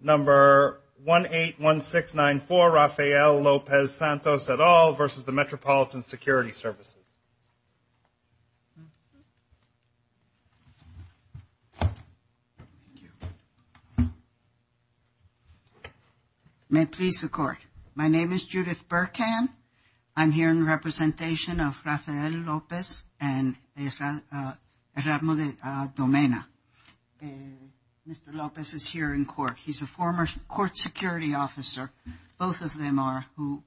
Number 181694, Rafael Lopez-Santos et al. v. Metropolitan Security Services. May it please the Court. My name is Judith Burkhan. I'm here in representation of Rafael Lopez and Ramona Domena. Mr. Lopez is here in court. He's a former court security officer, both of them are, who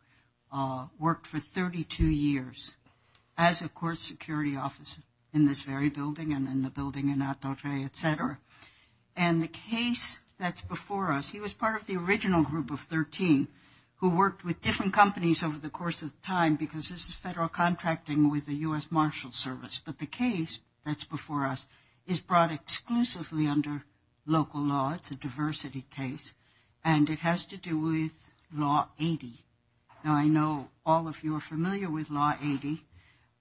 worked for 32 years as a court security officer in this very building and in the building in Atorrey, et cetera. And the case that's before us, he was part of the original group of 13 who worked with different companies over the course of time because this is federal contracting with the U.S. Marshals Service. But the case that's before us is brought exclusively under local law. It's a diversity case, and it has to do with Law 80. Now, I know all of you are familiar with Law 80,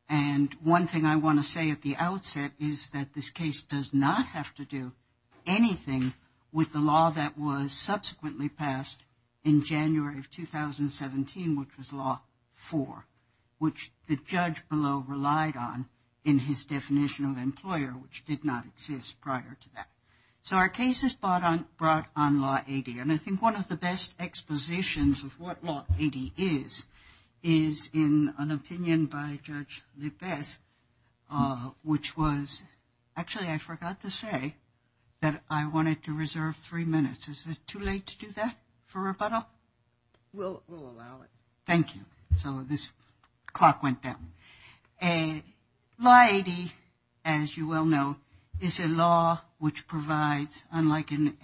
and one thing I want to say at the outset is that this case does not have to do anything with the law that was subsequently passed in January of 2017, which was Law 4, which the judge below relied on. And his definition of employer, which did not exist prior to that. So our case is brought on Law 80, and I think one of the best expositions of what Law 80 is, is in an opinion by Judge Lopez, which was, actually, I forgot to say that I wanted to reserve three minutes. Is it too late to do that for rebuttal? We'll allow it. Thank you. So this clock went down. Law 80, as you well know, is a law which provides, unlike in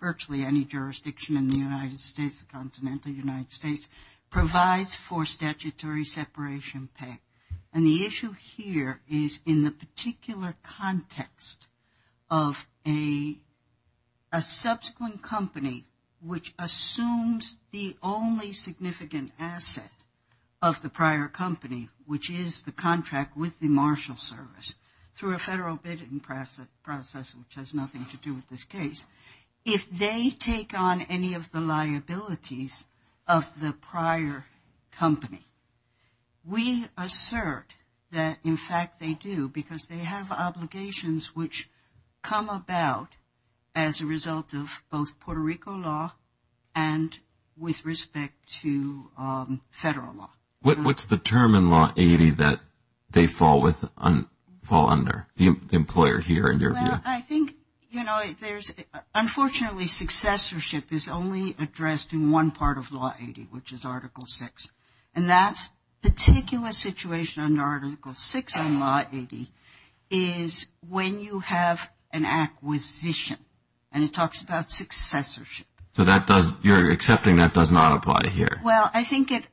virtually any jurisdiction in the United States, the continental United States, provides for statutory separation pay. And the issue here is in the particular context of a subsequent company which assumes the only significant asset of the prior company, which is the employer. And that is the contract with the marshal service, through a federal bidding process, which has nothing to do with this case. If they take on any of the liabilities of the prior company, we assert that, in fact, they do, because they have obligations which come about as a result of both Puerto Rico law and with respect to federal law. What's the term in Law 80 that they fall under, the employer here, in your view? Well, I think, you know, there's, unfortunately, successorship is only addressed in one part of Law 80, which is Article 6. And that particular situation under Article 6 in Law 80 is when you have an acquisition, and it talks about successorship. So that does, you're accepting that does not apply here? Well, in essence, the law states that the purchase of a particular company has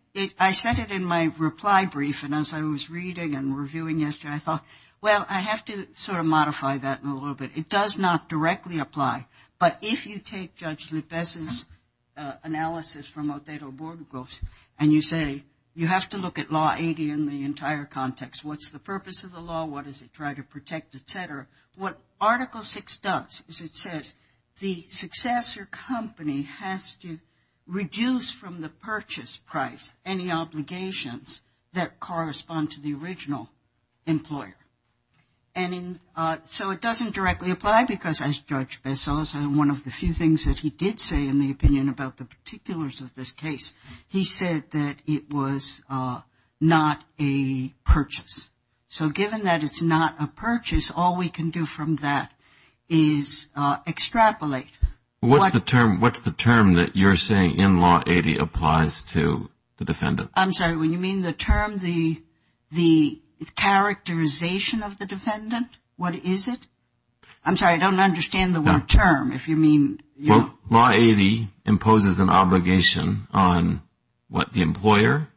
to reduce from the purchase price any obligations that correspond to the original employer. And so it doesn't directly apply, because as Judge Bessos, one of the few things that he did say in the opinion about the particulars of this case, he said that it was not a purchase. So given that it's not a purchase, all we can do from that is extrapolate. What's the term that you're saying in Law 80 applies to the defendant? I'm sorry, when you mean the term, the characterization of the defendant, what is it? I'm sorry, I don't understand the word term, if you mean... Well, Law 80 imposes an obligation on, what, the employer?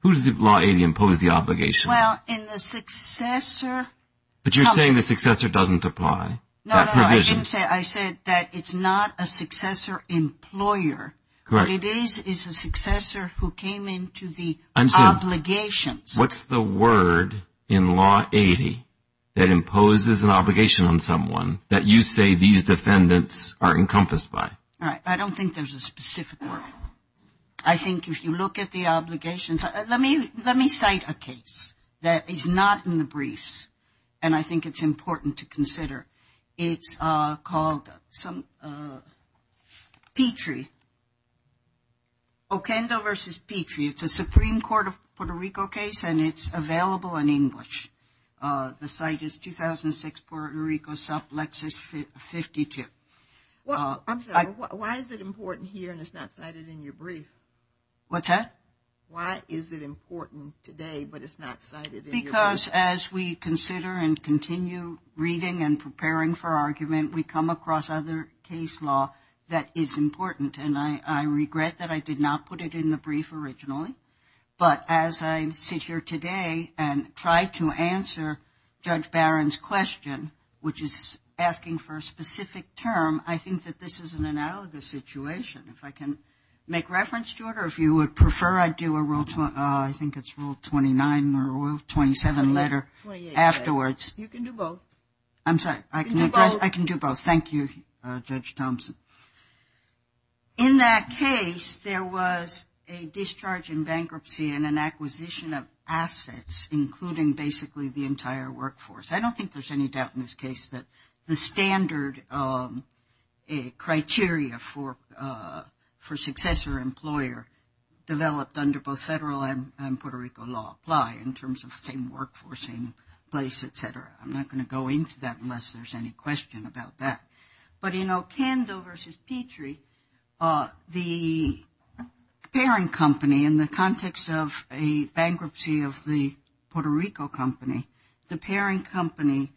Who does Law 80 impose the obligation on? Well, in the successor... But you're saying the successor doesn't apply, that provision? No, no, I didn't say, I said that it's not a successor employer. Correct. What it is is a successor who came into the obligations. What's the word in Law 80 that imposes an obligation on someone that you say these defendants are encompassed by? All right, I don't think there's a specific word. I think if you look at the obligations, let me cite a case that is not in the briefs, and I think it's important to consider. It's called Petrie. Okendo v. Petrie, it's a Supreme Court of Puerto Rico case, and it's available in English. The site is 2006 Puerto Rico, sub Lexus 52. I'm sorry, why is it important here and it's not cited in your brief? What's that? Why is it important today, but it's not cited in your brief? Because as we consider and continue reading and preparing for argument, we come across other case law that is important, and I regret that I did not put it in the brief originally. But as I sit here today and try to answer Judge Barron's question, which is asking for a specific term, I think that this is an analogous situation. If I can make reference to it, or if you would prefer I do a rule, I think it's rule 29 or rule 27 letter afterwards. You can do both. I'm sorry, I can do both. Thank you, Judge Thompson. In that case, there was a discharge in bankruptcy and an acquisition of assets, including basically the entire workforce. I don't think there's any doubt in this case that the standard criteria for successor employer developed under both federal and Puerto Rico law apply in terms of same workforce, same place, et cetera. I'm not going to go into that unless there's any question about that. But in Ocando versus Petrie, the pairing company in the context of a bankruptcy of the Puerto Rico company, the pairing company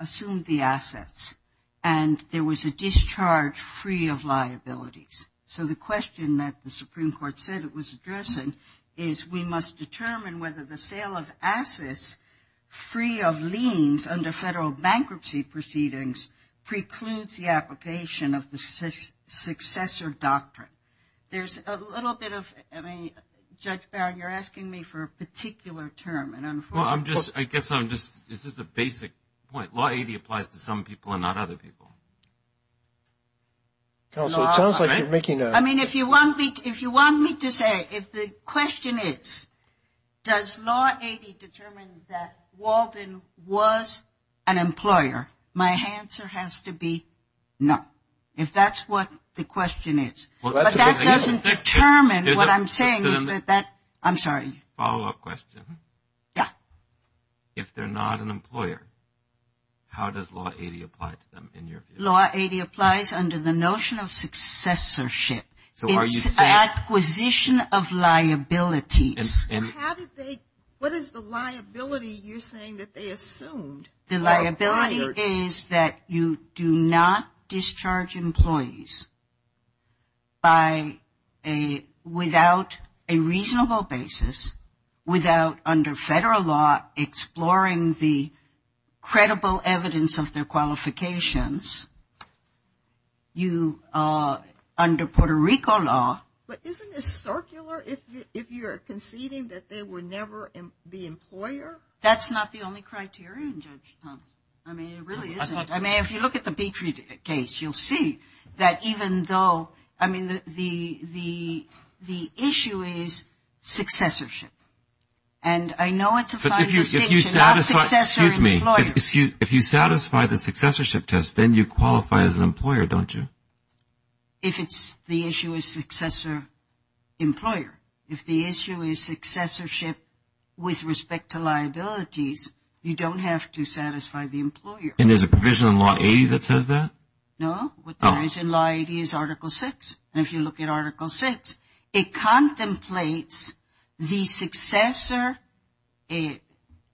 assumed the assets, and there was a discharge free of liabilities. So the question that the Supreme Court said it was addressing is we must determine whether the sale of assets free of includes the application of the successor doctrine. There's a little bit of, I mean, Judge Barron, you're asking me for a particular term. Well, I'm just, I guess I'm just, this is a basic point. Law 80 applies to some people and not other people. Counsel, it sounds like you're making a. I mean, if you want me to say, if the question is, does law 80 determine that Walden was an employer? My answer has to be no. If that's what the question is. But that doesn't determine what I'm saying is that, I'm sorry. Follow-up question. Yeah. If they're not an employer, how does law 80 apply to them in your view? Law 80 applies under the notion of successorship. So are you saying. It's acquisition of liabilities. And how did they, what is the liability you're saying that they assumed? The liability is that you do not discharge employees without a reasonable basis, without under federal law exploring the credible evidence of their qualifications. You, under Puerto Rico law. But isn't this circular if you're conceding that they were never the employer? That's not the only criterion, Judge Thomas. I mean, it really isn't. I mean, if you look at the Beatry case, you'll see that even though, I mean, the issue is successorship. And I know it's a fine distinction. Not successor employer. If you satisfy the successorship test, then you qualify as an employer, don't you? If it's the issue is successor employer. If the issue is successorship with respect to liabilities, you don't have to satisfy the employer. And there's a provision in law 80 that says that? No. What there is in law 80 is Article 6. And if you look at Article 6, it contemplates the successor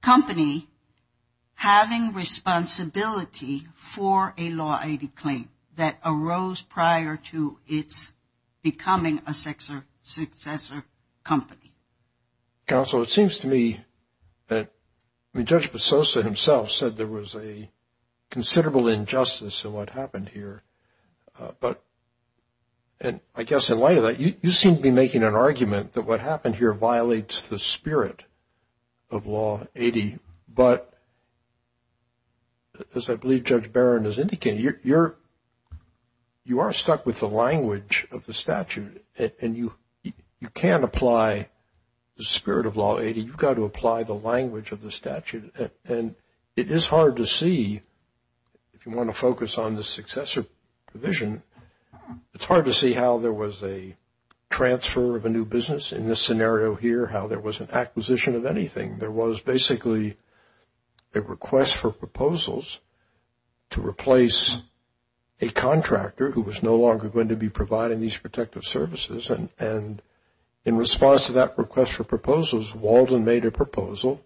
company having responsibility for a law 80 claim that arose prior to its becoming a successor company. Counsel, it seems to me that Judge Bezosa himself said there was a considerable injustice in what happened here. But I guess in light of that, you seem to be making an argument that what happened here violates the spirit of law 80. But as I believe Judge Barron is indicating, you are stuck with the language of the statute. And you can't apply the spirit of law 80. You've got to apply the language of the statute. And it is hard to see, if you want to focus on the successor provision, it's hard to see how there was a transfer of a new business in this scenario here, how there was an acquisition of anything. There was basically a request for proposals to replace a contractor who was no longer going to be providing these protective services. And in response to that request for proposals, Walden made a proposal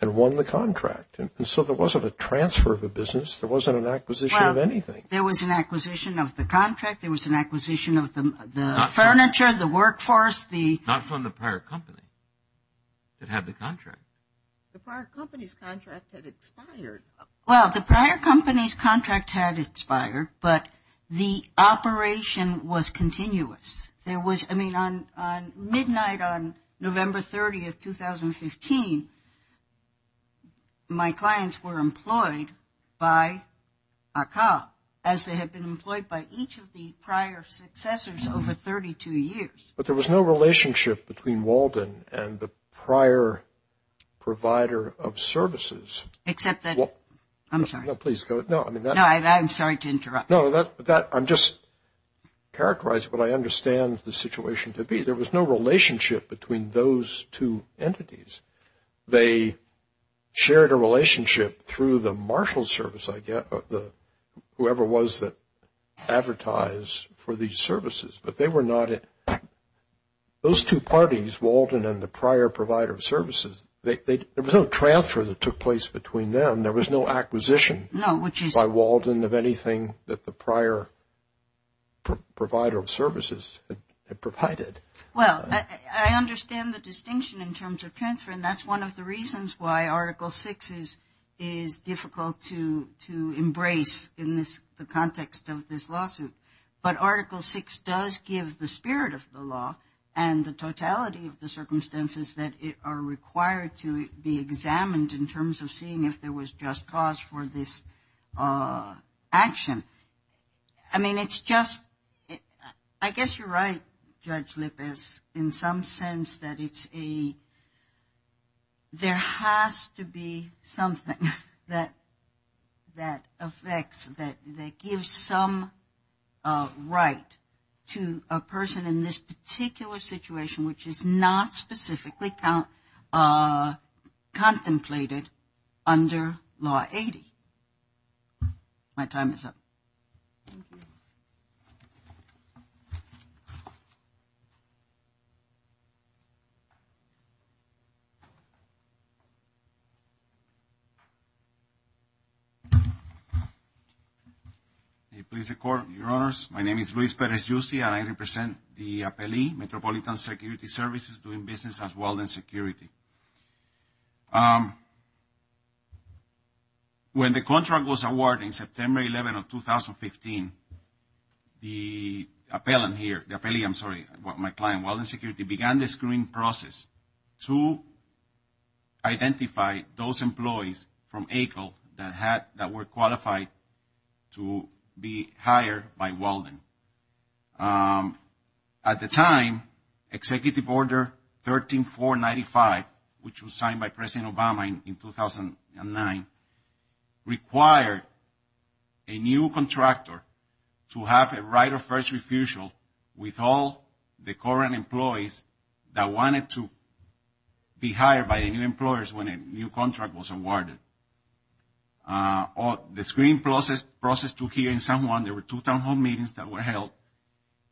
and won the contract. And so there wasn't a transfer of a business. There wasn't an acquisition of anything. There was an acquisition of the contract. There was an acquisition of the furniture, the workforce. Not from the prior company that had the contract. The prior company's contract had expired. Well, the prior company's contract had expired, but the operation was continuous. I mean, midnight on November 30th, 2015, my clients were employed by ACA, as they had been employed by each of the prior successors over 32 years. But there was no relationship between Walden and the prior provider of services. Except that – I'm sorry. No, please go ahead. No, I'm sorry to interrupt. No, I'm just characterizing what I understand the situation to be. There was no relationship between those two entities. They shared a relationship through the marshal service, whoever it was that advertised for these services. But they were not – those two parties, Walden and the prior provider of services, there was no transfer that took place between them. There was no acquisition by Walden of anything that the prior provider of services had provided. Well, I understand the distinction in terms of transfer, and that's one of the reasons why Article VI is difficult to embrace in the context of this lawsuit. But Article VI does give the spirit of the law and the totality of the circumstances that are required to be examined in terms of seeing if there was just cause for this action. I mean, it's just – I guess you're right, Judge Lippes, in some sense that it's a – there has to be something that affects, that gives some right to a person in this particular situation, which is not specifically contemplated under Law 80. My time is up. Thank you. May it please the Court, Your Honors. My name is Luis Perez-Yussi, and I represent the APELI, Metropolitan Security Services, doing business at Walden Security. When the contract was awarded in September 11 of 2015, the appellant here, the APELI, I'm sorry, my client, Walden Security, began the screening process to identify those employees from ACLE that were qualified to be hired by Walden. At the time, Executive Order 13495, which was signed by President Obama in 2009, required a new contractor to have a right of first refusal with all the current employees that wanted to be hired by the new employers when a new contract was awarded. The screening process took here in San Juan. There were two town hall meetings that were held,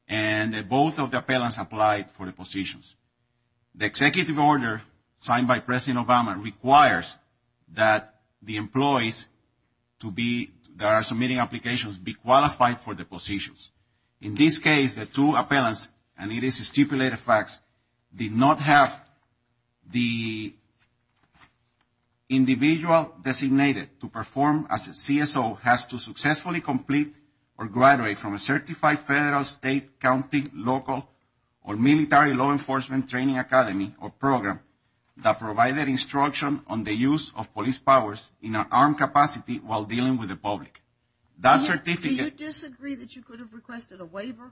and both of the appellants applied for the positions. The Executive Order signed by President Obama requires that the employees to be – that are submitting applications be qualified for the positions. In this case, the two appellants, and it is stipulated facts, did not have the individual designated to perform as a CSO has to successfully complete or graduate from a certified federal, state, county, local, or military law enforcement training academy or program that provided instruction on the use of police powers in an armed capacity while dealing with the public. That certificate – Do you disagree that you could have requested a waiver?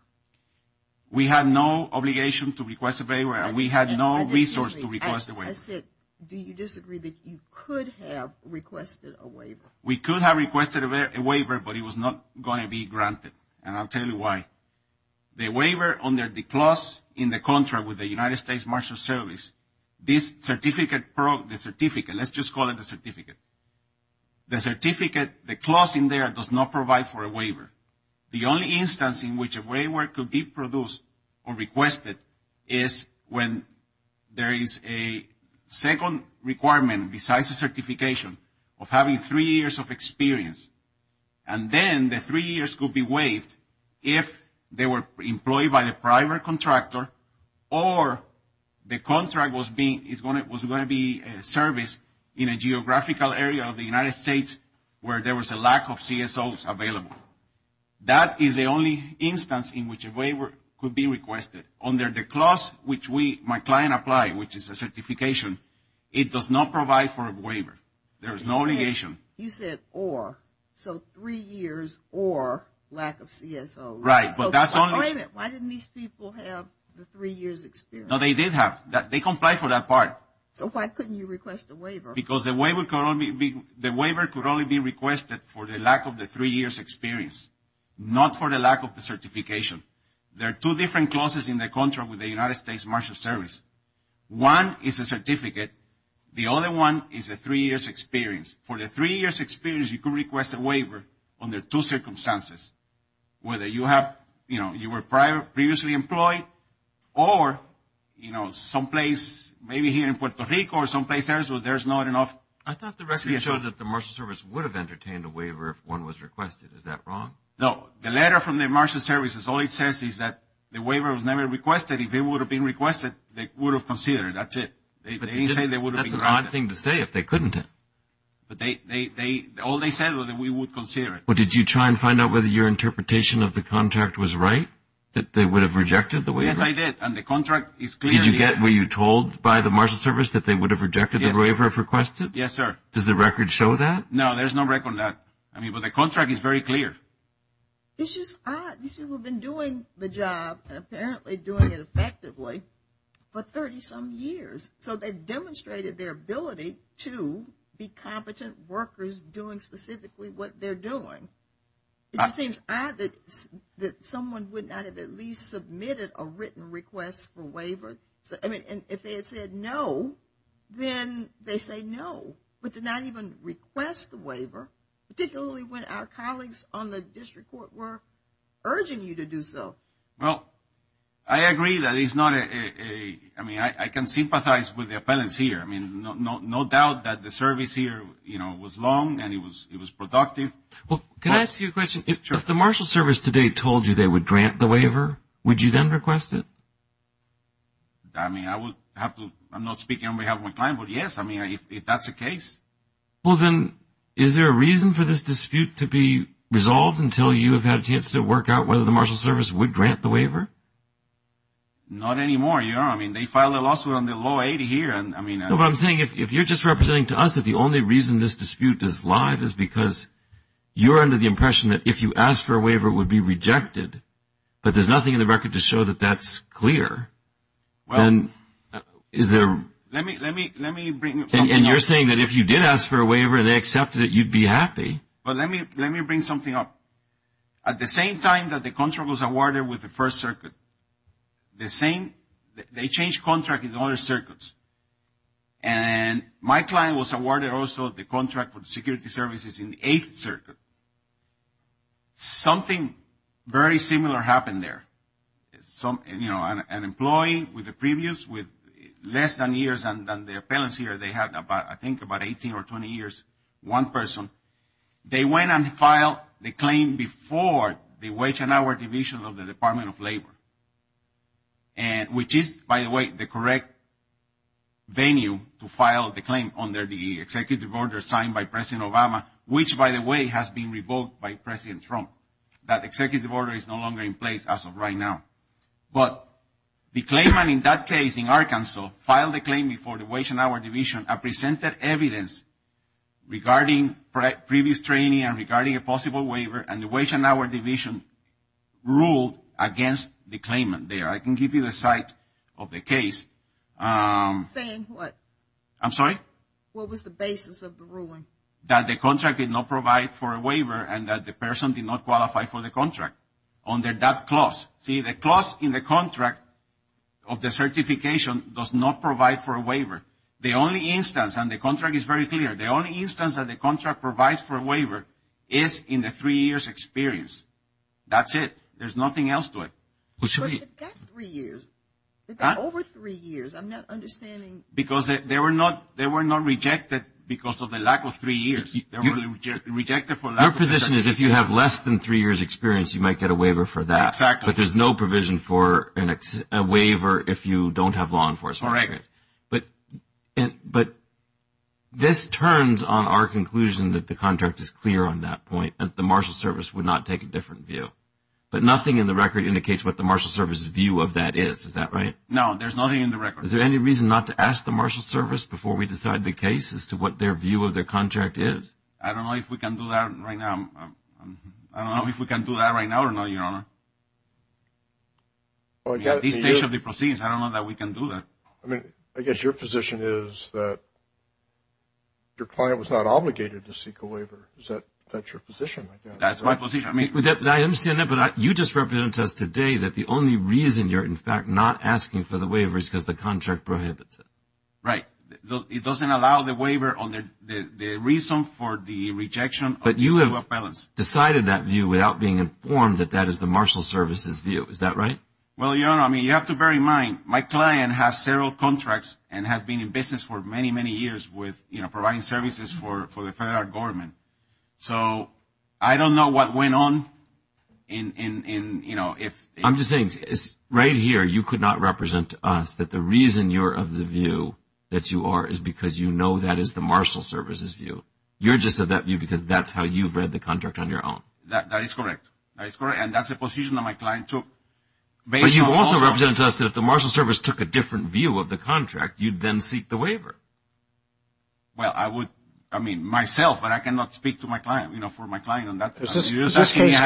We had no obligation to request a waiver, and we had no resource to request a waiver. I said, do you disagree that you could have requested a waiver? We could have requested a waiver, but it was not going to be granted, and I'll tell you why. The waiver under the clause in the contract with the United States Marshal Service, this certificate – the certificate, let's just call it a certificate. The certificate, the clause in there does not provide for a waiver. The only instance in which a waiver could be produced or requested is when there is a second requirement besides a certification of having three years of experience, and then the three years could be waived if they were employed by the private contractor or the contract was going to be serviced in a geographical area of the United States where there was a lack of CSOs available. That is the only instance in which a waiver could be requested. Under the clause which my client applied, which is a certification, it does not provide for a waiver. There is no obligation. You said or. So three years or lack of CSOs. Right, but that's only – Why didn't these people have the three years experience? No, they did have – they complied for that part. So why couldn't you request a waiver? Because the waiver could only be requested for the lack of the three years experience, not for the lack of the certification. There are two different clauses in the contract with the United States Marshals Service. One is a certificate. The other one is a three years experience. For the three years experience, you could request a waiver under two circumstances, whether you have – you know, you were previously employed or, you know, maybe here in Puerto Rico or someplace else where there's not enough CSOs. I thought the record showed that the Marshals Service would have entertained a waiver if one was requested. Is that wrong? No. The letter from the Marshals Service, all it says is that the waiver was never requested. If it would have been requested, they would have considered it. That's it. They didn't say they would have been granted it. That's a bad thing to say if they couldn't have. But they – all they said was that we would consider it. But did you try and find out whether your interpretation of the contract was right, that they would have rejected the waiver? Yes, I did. And the contract is clear. Did you get – were you told by the Marshals Service that they would have rejected the waiver if requested? Yes, sir. Does the record show that? No, there's no record of that. I mean, but the contract is very clear. It's just odd. These people have been doing the job and apparently doing it effectively for 30-some years. So they've demonstrated their ability to be competent workers doing specifically what they're doing. It just seems odd that someone would not have at least submitted a written request for waiver. I mean, if they had said no, then they say no, but did not even request the waiver, particularly when our colleagues on the district court were urging you to do so. Well, I agree that it's not a – I mean, I can sympathize with the appellants here. I mean, no doubt that the service here was long and it was productive. Well, can I ask you a question? Sure. If the Marshals Service today told you they would grant the waiver, would you then request it? I mean, I would have to – I'm not speaking on behalf of my client, but, yes, I mean, if that's the case. Well, then, is there a reason for this dispute to be resolved until you have had a chance to work out whether the Marshals Service would grant the waiver? Not anymore. I mean, they filed a lawsuit on the low 80 here, and I mean – No, but I'm saying if you're just representing to us that the only reason this dispute is live is because you're under the impression that if you asked for a waiver, it would be rejected, but there's nothing in the record to show that that's clear, then is there – Let me bring something up. And you're saying that if you did ask for a waiver and they accepted it, you'd be happy. But let me bring something up. At the same time that the contract was awarded with the First Circuit, the same – they changed contract in other circuits. And my client was awarded also the contract for the security services in the Eighth Circuit. Something very similar happened there. Some – you know, an employee with a previous with less than years than the appellants here, they had about – I think about 18 or 20 years, one person. They went and filed the claim before the Wage and Hour Division of the Department of Labor, which is, by the way, the correct venue to file the claim under the executive order signed by President Obama, which, by the way, has been revoked by President Trump. That executive order is no longer in place as of right now. But the claimant in that case in Arkansas filed a claim before the Wage and Hour Division and presented evidence regarding previous training and regarding a possible waiver, and the Wage and Hour Division ruled against the claimant there. I can give you the site of the case. Saying what? I'm sorry? What was the basis of the ruling? That the contract did not provide for a waiver and that the person did not qualify for the contract under that clause. See, the clause in the contract of the certification does not provide for a waiver. The only instance, and the contract is very clear, the only instance that the contract provides for a waiver is in the three years' experience. That's it. There's nothing else to it. But you've got three years. You've got over three years. I'm not understanding. Because they were not rejected because of the lack of three years. They were rejected for lack of certification. Your position is if you have less than three years' experience, you might get a waiver for that. Exactly. But there's no provision for a waiver if you don't have law enforcement. That's correct. But this turns on our conclusion that the contract is clear on that point, that the marshal service would not take a different view. But nothing in the record indicates what the marshal service's view of that is. Is that right? No, there's nothing in the record. Is there any reason not to ask the marshal service before we decide the case as to what their view of their contract is? I don't know if we can do that right now. I don't know if we can do that right now or not, Your Honor. At this stage of the proceedings, I don't know that we can do that. I mean, I guess your position is that your client was not obligated to seek a waiver. Is that your position? That's my position. I mean, I understand that, but you just represented to us today that the only reason you're, in fact, not asking for the waiver is because the contract prohibits it. Right. It doesn't allow the waiver on the reason for the rejection of these two appellants. You decided that view without being informed that that is the marshal service's view. Is that right? Well, Your Honor, I mean, you have to bear in mind my client has several contracts and has been in business for many, many years with providing services for the federal government. So I don't know what went on. I'm just saying right here you could not represent to us that the reason you're of the view that you are is because you know that is the marshal service's view. You're just of that view because that's how you've read the contract on your own. That is correct. That is correct, and that's the position that my client took. But you also represented to us that if the marshal service took a different view of the contract, you'd then seek the waiver. Well, I would, I mean, myself, but I cannot speak to my client, you know, for my client. Is this case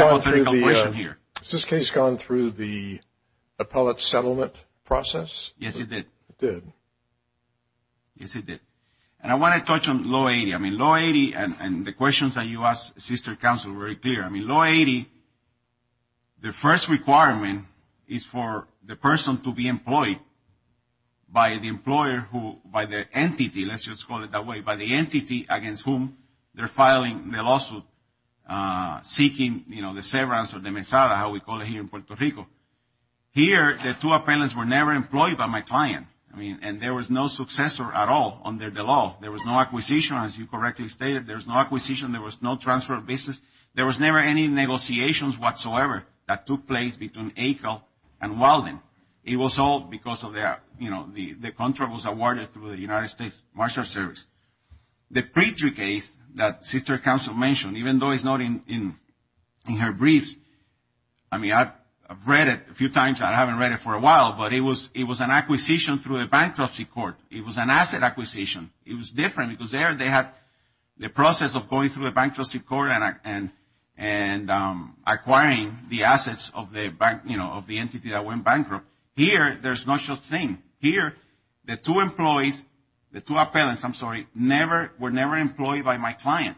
gone through the appellate settlement process? Yes, it did. It did. Yes, it did. And I want to touch on Law 80. I mean, Law 80 and the questions that you asked, Sister Counsel, were very clear. I mean, Law 80, the first requirement is for the person to be employed by the employer who, by the entity, let's just call it that way, by the entity against whom they're filing the lawsuit, seeking, you know, the severance or the mesada, how we call it here in Puerto Rico. Here, the two appellants were never employed by my client. I mean, and there was no successor at all under the law. There was no acquisition, as you correctly stated. There was no acquisition. There was no transfer of business. There was never any negotiations whatsoever that took place between ACL and Walden. It was all because of the, you know, the contract was awarded through the United States Marshal Service. The Petry case that Sister Counsel mentioned, even though it's not in her briefs, I mean, I've read it a few times. I haven't read it for a while, but it was an acquisition through a bankruptcy court. It was an asset acquisition. It was different because there they had the process of going through a bankruptcy court and acquiring the assets of the, you know, of the entity that went bankrupt. Here, there's no such thing. Here, the two employees, the two appellants, I'm sorry, were never employed by my client.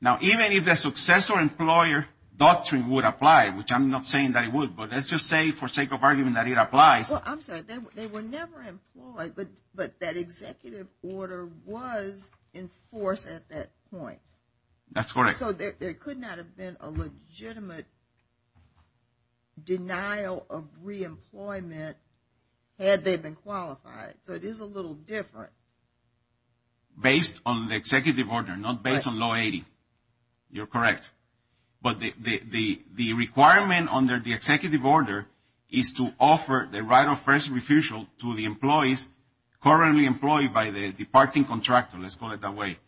Now, even if the successor-employer doctrine would apply, which I'm not saying that it would, but let's just say for sake of argument that it applies. Well, I'm sorry. They were never employed, but that executive order was in force at that point. That's correct. So there could not have been a legitimate denial of reemployment had they been qualified. So it is a little different. Based on the executive order, not based on Law 80. You're correct. But the requirement under the executive order is to offer the right of first refusal to the employees currently employed by the departing contractor, let's call it that way.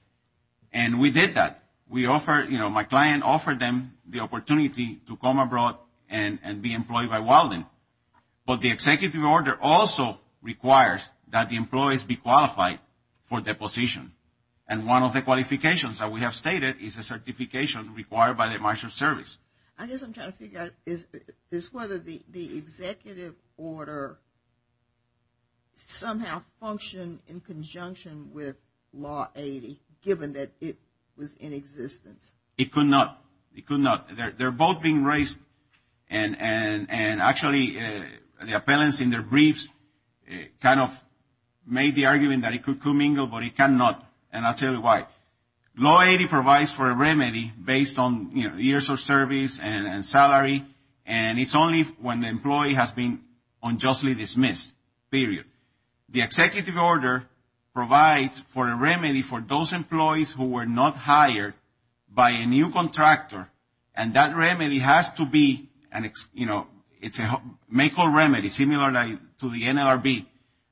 And we did that. We offered, you know, my client offered them the opportunity to come abroad and be employed by Walden. But the executive order also requires that the employees be qualified for deposition. And one of the qualifications that we have stated is a certification required by the Marshall Service. I guess I'm trying to figure out is whether the executive order somehow functioned in conjunction with Law 80, given that it was in existence. It could not. It could not. They're both being raised and actually the appellants in their briefs kind of made the argument that it could not, and I'll tell you why. Law 80 provides for a remedy based on, you know, years of service and salary, and it's only when the employee has been unjustly dismissed, period. The executive order provides for a remedy for those employees who were not hired by a new contractor, and that remedy has to be, you know, it's a make or remedy, similar to the NLRB.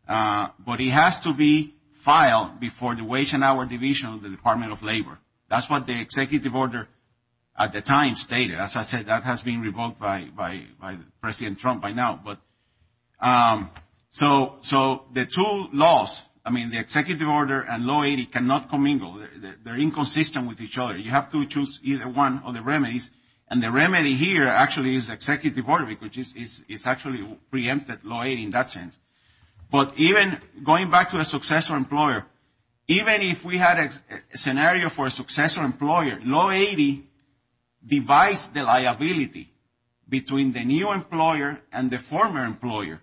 But it has to be filed before the Wage and Hour Division of the Department of Labor. That's what the executive order at the time stated. As I said, that has been revoked by President Trump by now. So the two laws, I mean, the executive order and Law 80 cannot commingle. They're inconsistent with each other. You have to choose either one of the remedies. And the remedy here actually is executive order, which is actually preempted Law 80 in that sense. But even going back to a successful employer, even if we had a scenario for a successful employer, Law 80 divides the liability between the new employer and the former employer.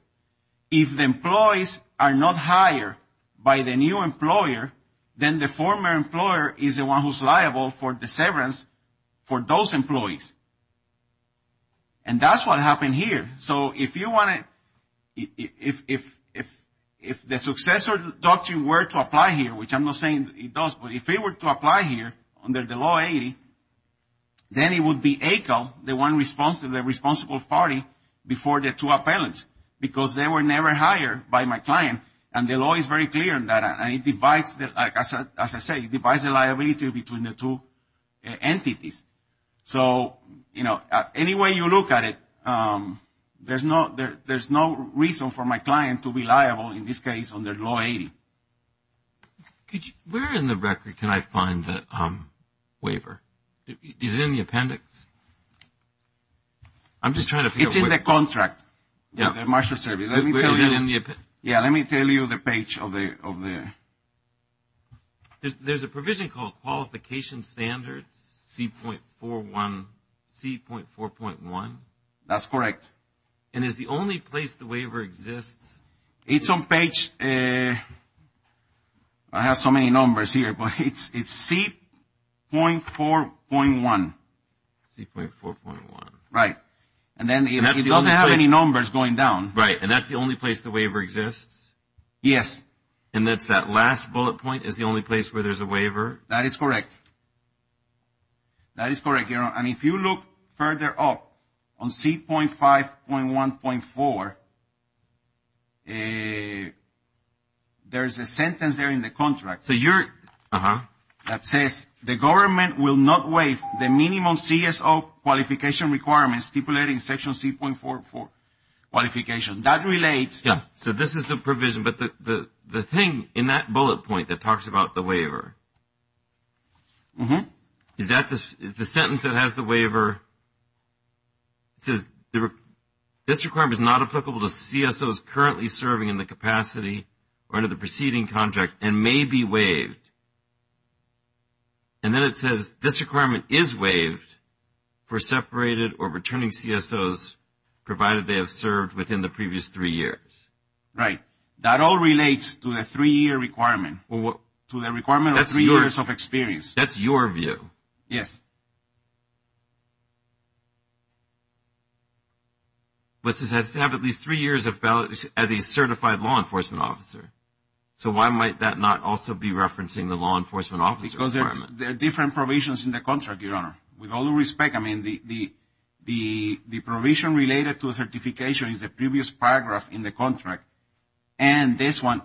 If the employees are not hired by the new employer, then the former employer is the one who's liable for the severance for those employees. And that's what happened here. So if you want to, if the successor doctrine were to apply here, which I'm not saying it does, but if it were to apply here under the Law 80, then it would be ACAL, the one responsible party before the two appellants, because they were never hired by my client. And the law is very clear in that. And it divides, as I say, it divides the liability between the two entities. So, you know, any way you look at it, there's no reason for my client to be liable in this case under Law 80. Where in the record can I find the waiver? Is it in the appendix? I'm just trying to figure out where. It's in the contract. Yeah. The marshal service. Let me tell you. Yeah, let me tell you the page of the. There's a provision called qualification standards, C.4.1. That's correct. And is the only place the waiver exists? It's on page, I have so many numbers here, but it's C.4.1. C.4.1. Right. And then it doesn't have any numbers going down. Right. And that's the only place the waiver exists? Yes. And that's that last bullet point is the only place where there's a waiver? That is correct. That is correct. And if you look further up on C.5.1.4, there's a sentence there in the contract. So you're. That says the government will not waive the minimum CSO qualification requirements stipulated in Section C.4.4 qualification. That relates. Yeah. So this is the provision. But the thing in that bullet point that talks about the waiver, is that the sentence that has the waiver, it says this requirement is not applicable to CSOs currently serving in the capacity or under the preceding contract and may be waived. And then it says this requirement is waived for separated or returning CSOs provided they have served within the previous three years. Right. That all relates to the three-year requirement. To the requirement of three years of experience. That's your view. Yes. But it says to have at least three years as a certified law enforcement officer. So why might that not also be referencing the law enforcement officer requirement? Because there are different provisions in the contract, Your Honor. With all due respect, I mean, the provision related to certification is the previous paragraph in the contract. And this one,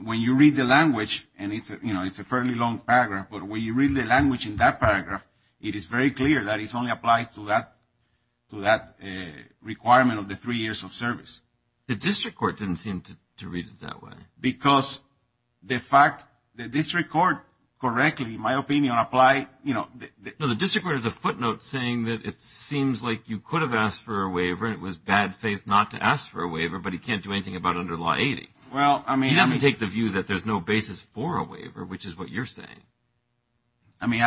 when you read the language, and it's a fairly long paragraph, but when you read the language in that paragraph, it is very clear that it only applies to that requirement of the three years of service. The district court didn't seem to read it that way. Because the fact the district court correctly, in my opinion, applied, you know. No, the district court has a footnote saying that it seems like you could have asked for a waiver and it was bad faith not to ask for a waiver, but he can't do anything about it under Law 80. Well, I mean. He doesn't take the view that there's no basis for a waiver, which is what you're saying. I mean,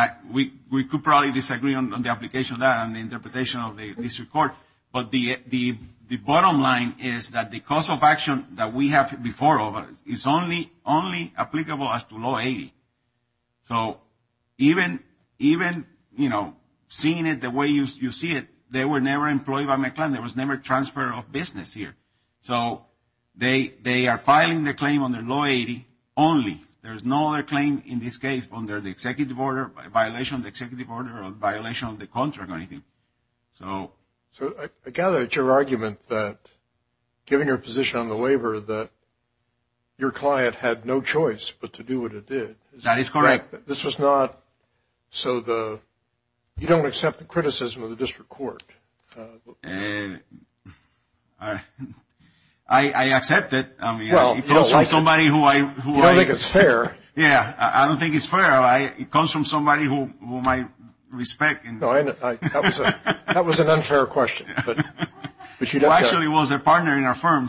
we could probably disagree on the application of that and the interpretation of the district court. But the bottom line is that the cost of action that we have before us is only applicable as to Law 80. So even, you know, seeing it the way you see it, they were never employed by McClellan. There was never transfer of business here. So they are filing the claim under Law 80 only. There is no other claim in this case under the executive order, violation of the executive order or violation of the contract or anything. So. So I gather it's your argument that, given your position on the waiver, that your client had no choice but to do what it did. That is correct. This was not so the. You don't accept the criticism of the district court. I accept it. Somebody who I think it's fair. Yeah. I don't think it's fair. It comes from somebody who might respect. That was an unfair question. But she actually was a partner in our firm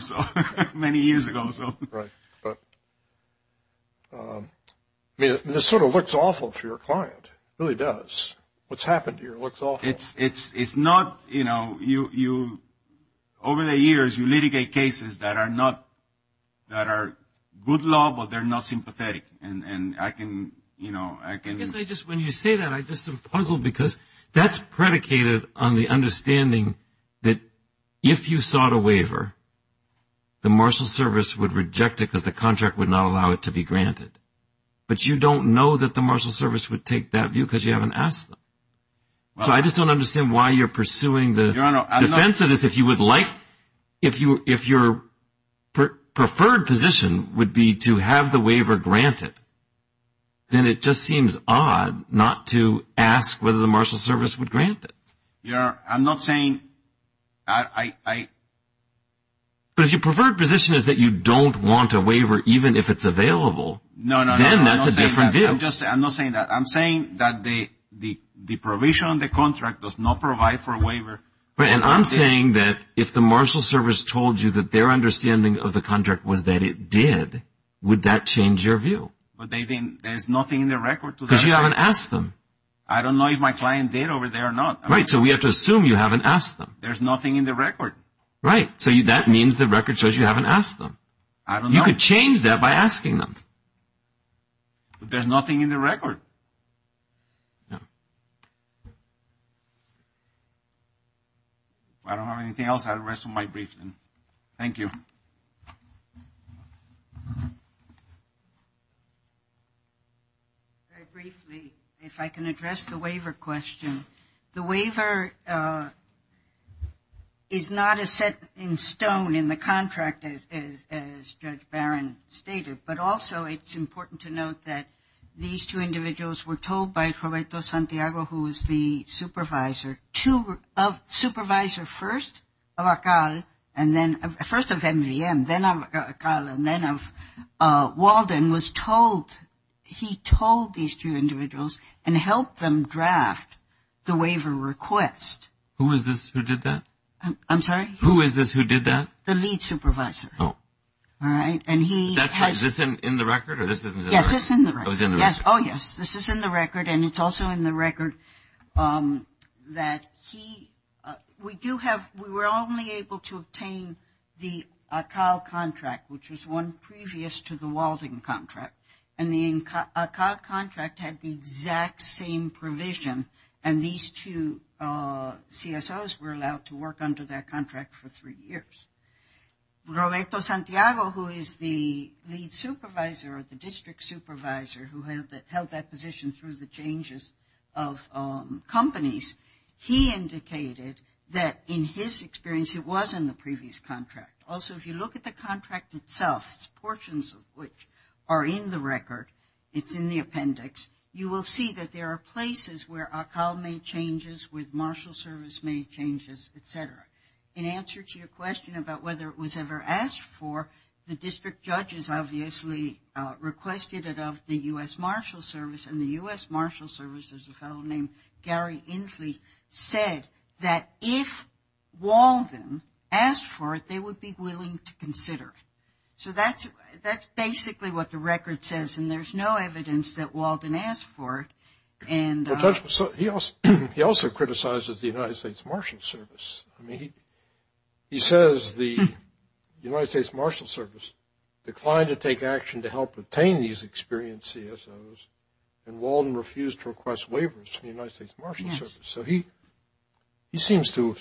many years ago. This sort of looks awful to your client. It really does. What's happened here looks awful. It's not, you know, you, over the years, you litigate cases that are not, that are good law, but they're not sympathetic. And I can, you know, I can. When you say that, I just am puzzled because that's predicated on the understanding that if you sought a waiver, the marshal service would reject it because the contract would not allow it to be granted. But you don't know that the marshal service would take that view because you haven't asked them. So I just don't understand why you're pursuing the defense of this. If you would like, if your preferred position would be to have the waiver granted, then it just seems odd not to ask whether the marshal service would grant it. I'm not saying I. But if your preferred position is that you don't want a waiver, even if it's available, then that's a different view. I'm not saying that. I'm saying that the provision on the contract does not provide for a waiver. And I'm saying that if the marshal service told you that their understanding of the contract was that it did, would that change your view? But they didn't. There's nothing in the record to that. Because you haven't asked them. I don't know if my client did over there or not. Right. So we have to assume you haven't asked them. There's nothing in the record. Right. So that means the record shows you haven't asked them. I don't know. You could change that by asking them. But there's nothing in the record. No. If I don't have anything else, I'll rest from my briefing. Thank you. Very briefly, if I can address the waiver question. The waiver is not as set in stone in the contract as Judge Barron stated, but also it's important to note that these two individuals were told by Roberto Santiago, who was the supervisor, supervisor first of ACAL, first of MDM, then of ACAL, and then of Walden, he told these two individuals and helped them draft the waiver request. Who is this who did that? I'm sorry? Who is this who did that? The lead supervisor. Oh. All right. Is this in the record? Yes, it's in the record. Oh, yes. This is in the record, and it's also in the record that we were only able to obtain the ACAL contract, which was one previous to the Walden contract. And the ACAL contract had the exact same provision, and these two CSOs were allowed to work under that contract for three years. Roberto Santiago, who is the lead supervisor or the district supervisor who held that position through the changes of companies, he indicated that in his experience it was in the previous contract. Also, if you look at the contract itself, portions of which are in the record, it's in the appendix, you will see that there are places where ACAL made changes, with marshal service made changes, et cetera. In answer to your question about whether it was ever asked for, the district judges obviously requested it of the U.S. Marshal Service, and the U.S. Marshal Service, there's a fellow named Gary Inslee, said that if Walden asked for it, they would be willing to consider it. So that's basically what the record says, and there's no evidence that Walden asked for it. He also criticizes the United States Marshal Service. He says the United States Marshal Service declined to take action to help obtain these experienced CSOs, and Walden refused to request waivers from the United States Marshal Service. So he seems to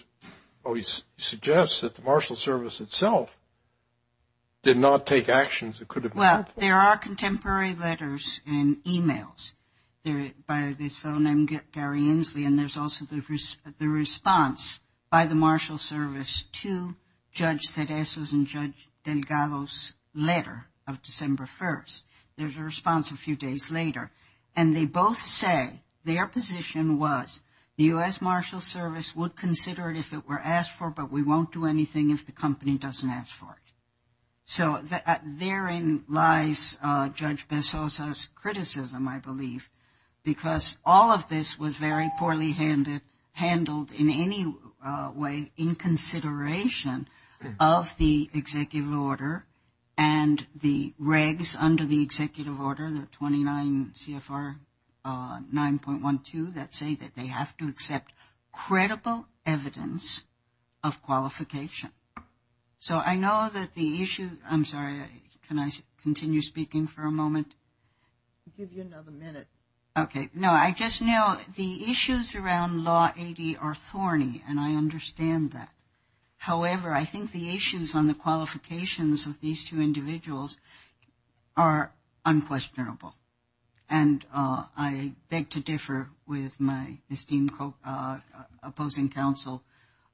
always suggest that the Marshal Service itself did not take actions that could have been helpful. There are contemporary letters and emails by this fellow named Gary Inslee, and there's also the response by the Marshal Service to Judge Tedesco's and Judge Delgado's letter of December 1st. There's a response a few days later. And they both say their position was the U.S. Marshal Service would consider it if it were asked for, but we won't do anything if the company doesn't ask for it. So therein lies Judge Bessosa's criticism, I believe, because all of this was very poorly handled in any way in consideration of the executive order and the regs under the executive order, the 29 CFR 9.12, that say that they have to accept credible evidence of qualification. So I know that the issue – I'm sorry, can I continue speaking for a moment? I'll give you another minute. Okay. No, I just know the issues around Law 80 are thorny, and I understand that. However, I think the issues on the qualifications of these two individuals are unquestionable, and I beg to differ with my esteemed opposing counsel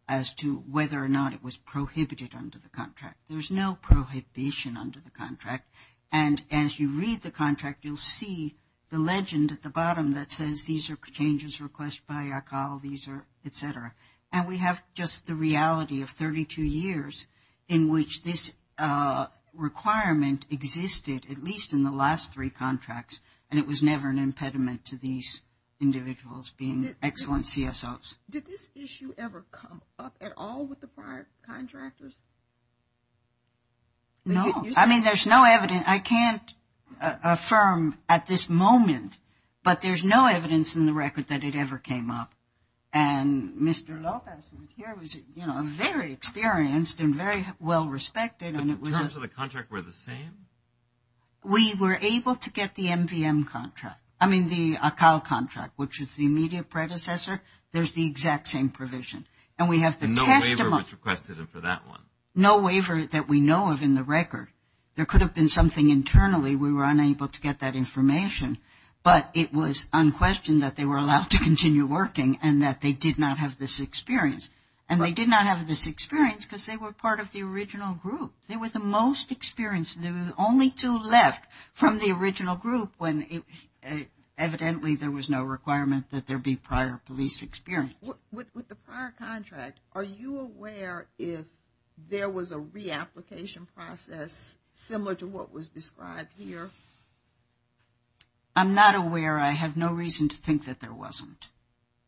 as to whether or not it was prohibited under the contract. There's no prohibition under the contract. And as you read the contract, you'll see the legend at the bottom that says, these are changes requested by Yakal, et cetera. And we have just the reality of 32 years in which this requirement existed, at least in the last three contracts, and it was never an impediment to these individuals being excellent CSOs. Did this issue ever come up at all with the prior contractors? No. I mean, there's no evidence – I can't affirm at this moment, but there's no evidence in the record that it ever came up. And Mr. Lopez, who was here, was, you know, very experienced and very well respected. But the terms of the contract were the same? We were able to get the MVM contract, I mean, the Yakal contract, which is the immediate predecessor. There's the exact same provision. And we have the testimony. And no waiver was requested for that one? No waiver that we know of in the record. There could have been something internally. We were unable to get that information, but it was unquestioned that they were allowed to continue working and that they did not have this experience. And they did not have this experience because they were part of the original group. They were the most experienced, and there were only two left from the original group when evidently there was no requirement that there be prior police experience. With the prior contract, are you aware if there was a reapplication process similar to what was described here? I'm not aware. I have no reason to think that there wasn't.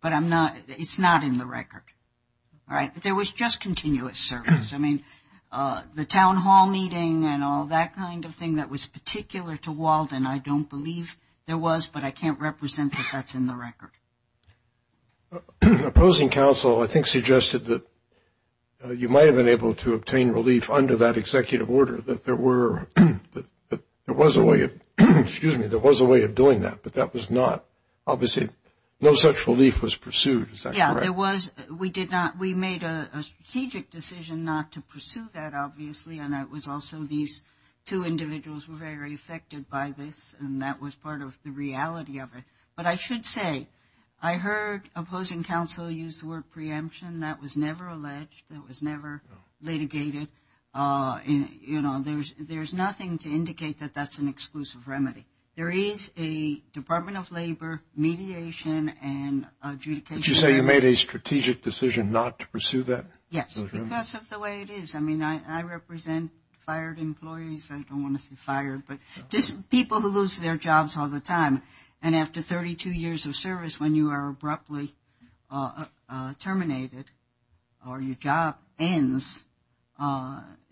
But it's not in the record. There was just continuous service. I mean, the town hall meeting and all that kind of thing that was particular to Walden, I don't believe there was, but I can't represent that that's in the record. Opposing counsel, I think, suggested that you might have been able to obtain relief under that executive order, that there was a way of doing that, but that was not. Obviously, no such relief was pursued. Is that correct? Yeah, there was. We did not. We made a strategic decision not to pursue that, obviously, and it was also these two individuals were very affected by this, and that was part of the reality of it. But I should say, I heard opposing counsel use the word preemption. That was never alleged. That was never litigated. You know, there's nothing to indicate that that's an exclusive remedy. There is a Department of Labor mediation and adjudication. Did you say you made a strategic decision not to pursue that? Yes, because of the way it is. I mean, I represent fired employees. I don't want to say fired, but just people who lose their jobs all the time. And after 32 years of service, when you are abruptly terminated or your job ends,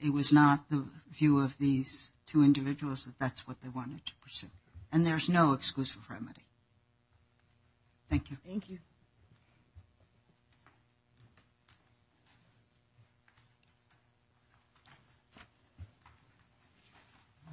it was not the view of these two individuals that that's what they wanted to pursue. And there's no exclusive remedy. Thank you. Thank you.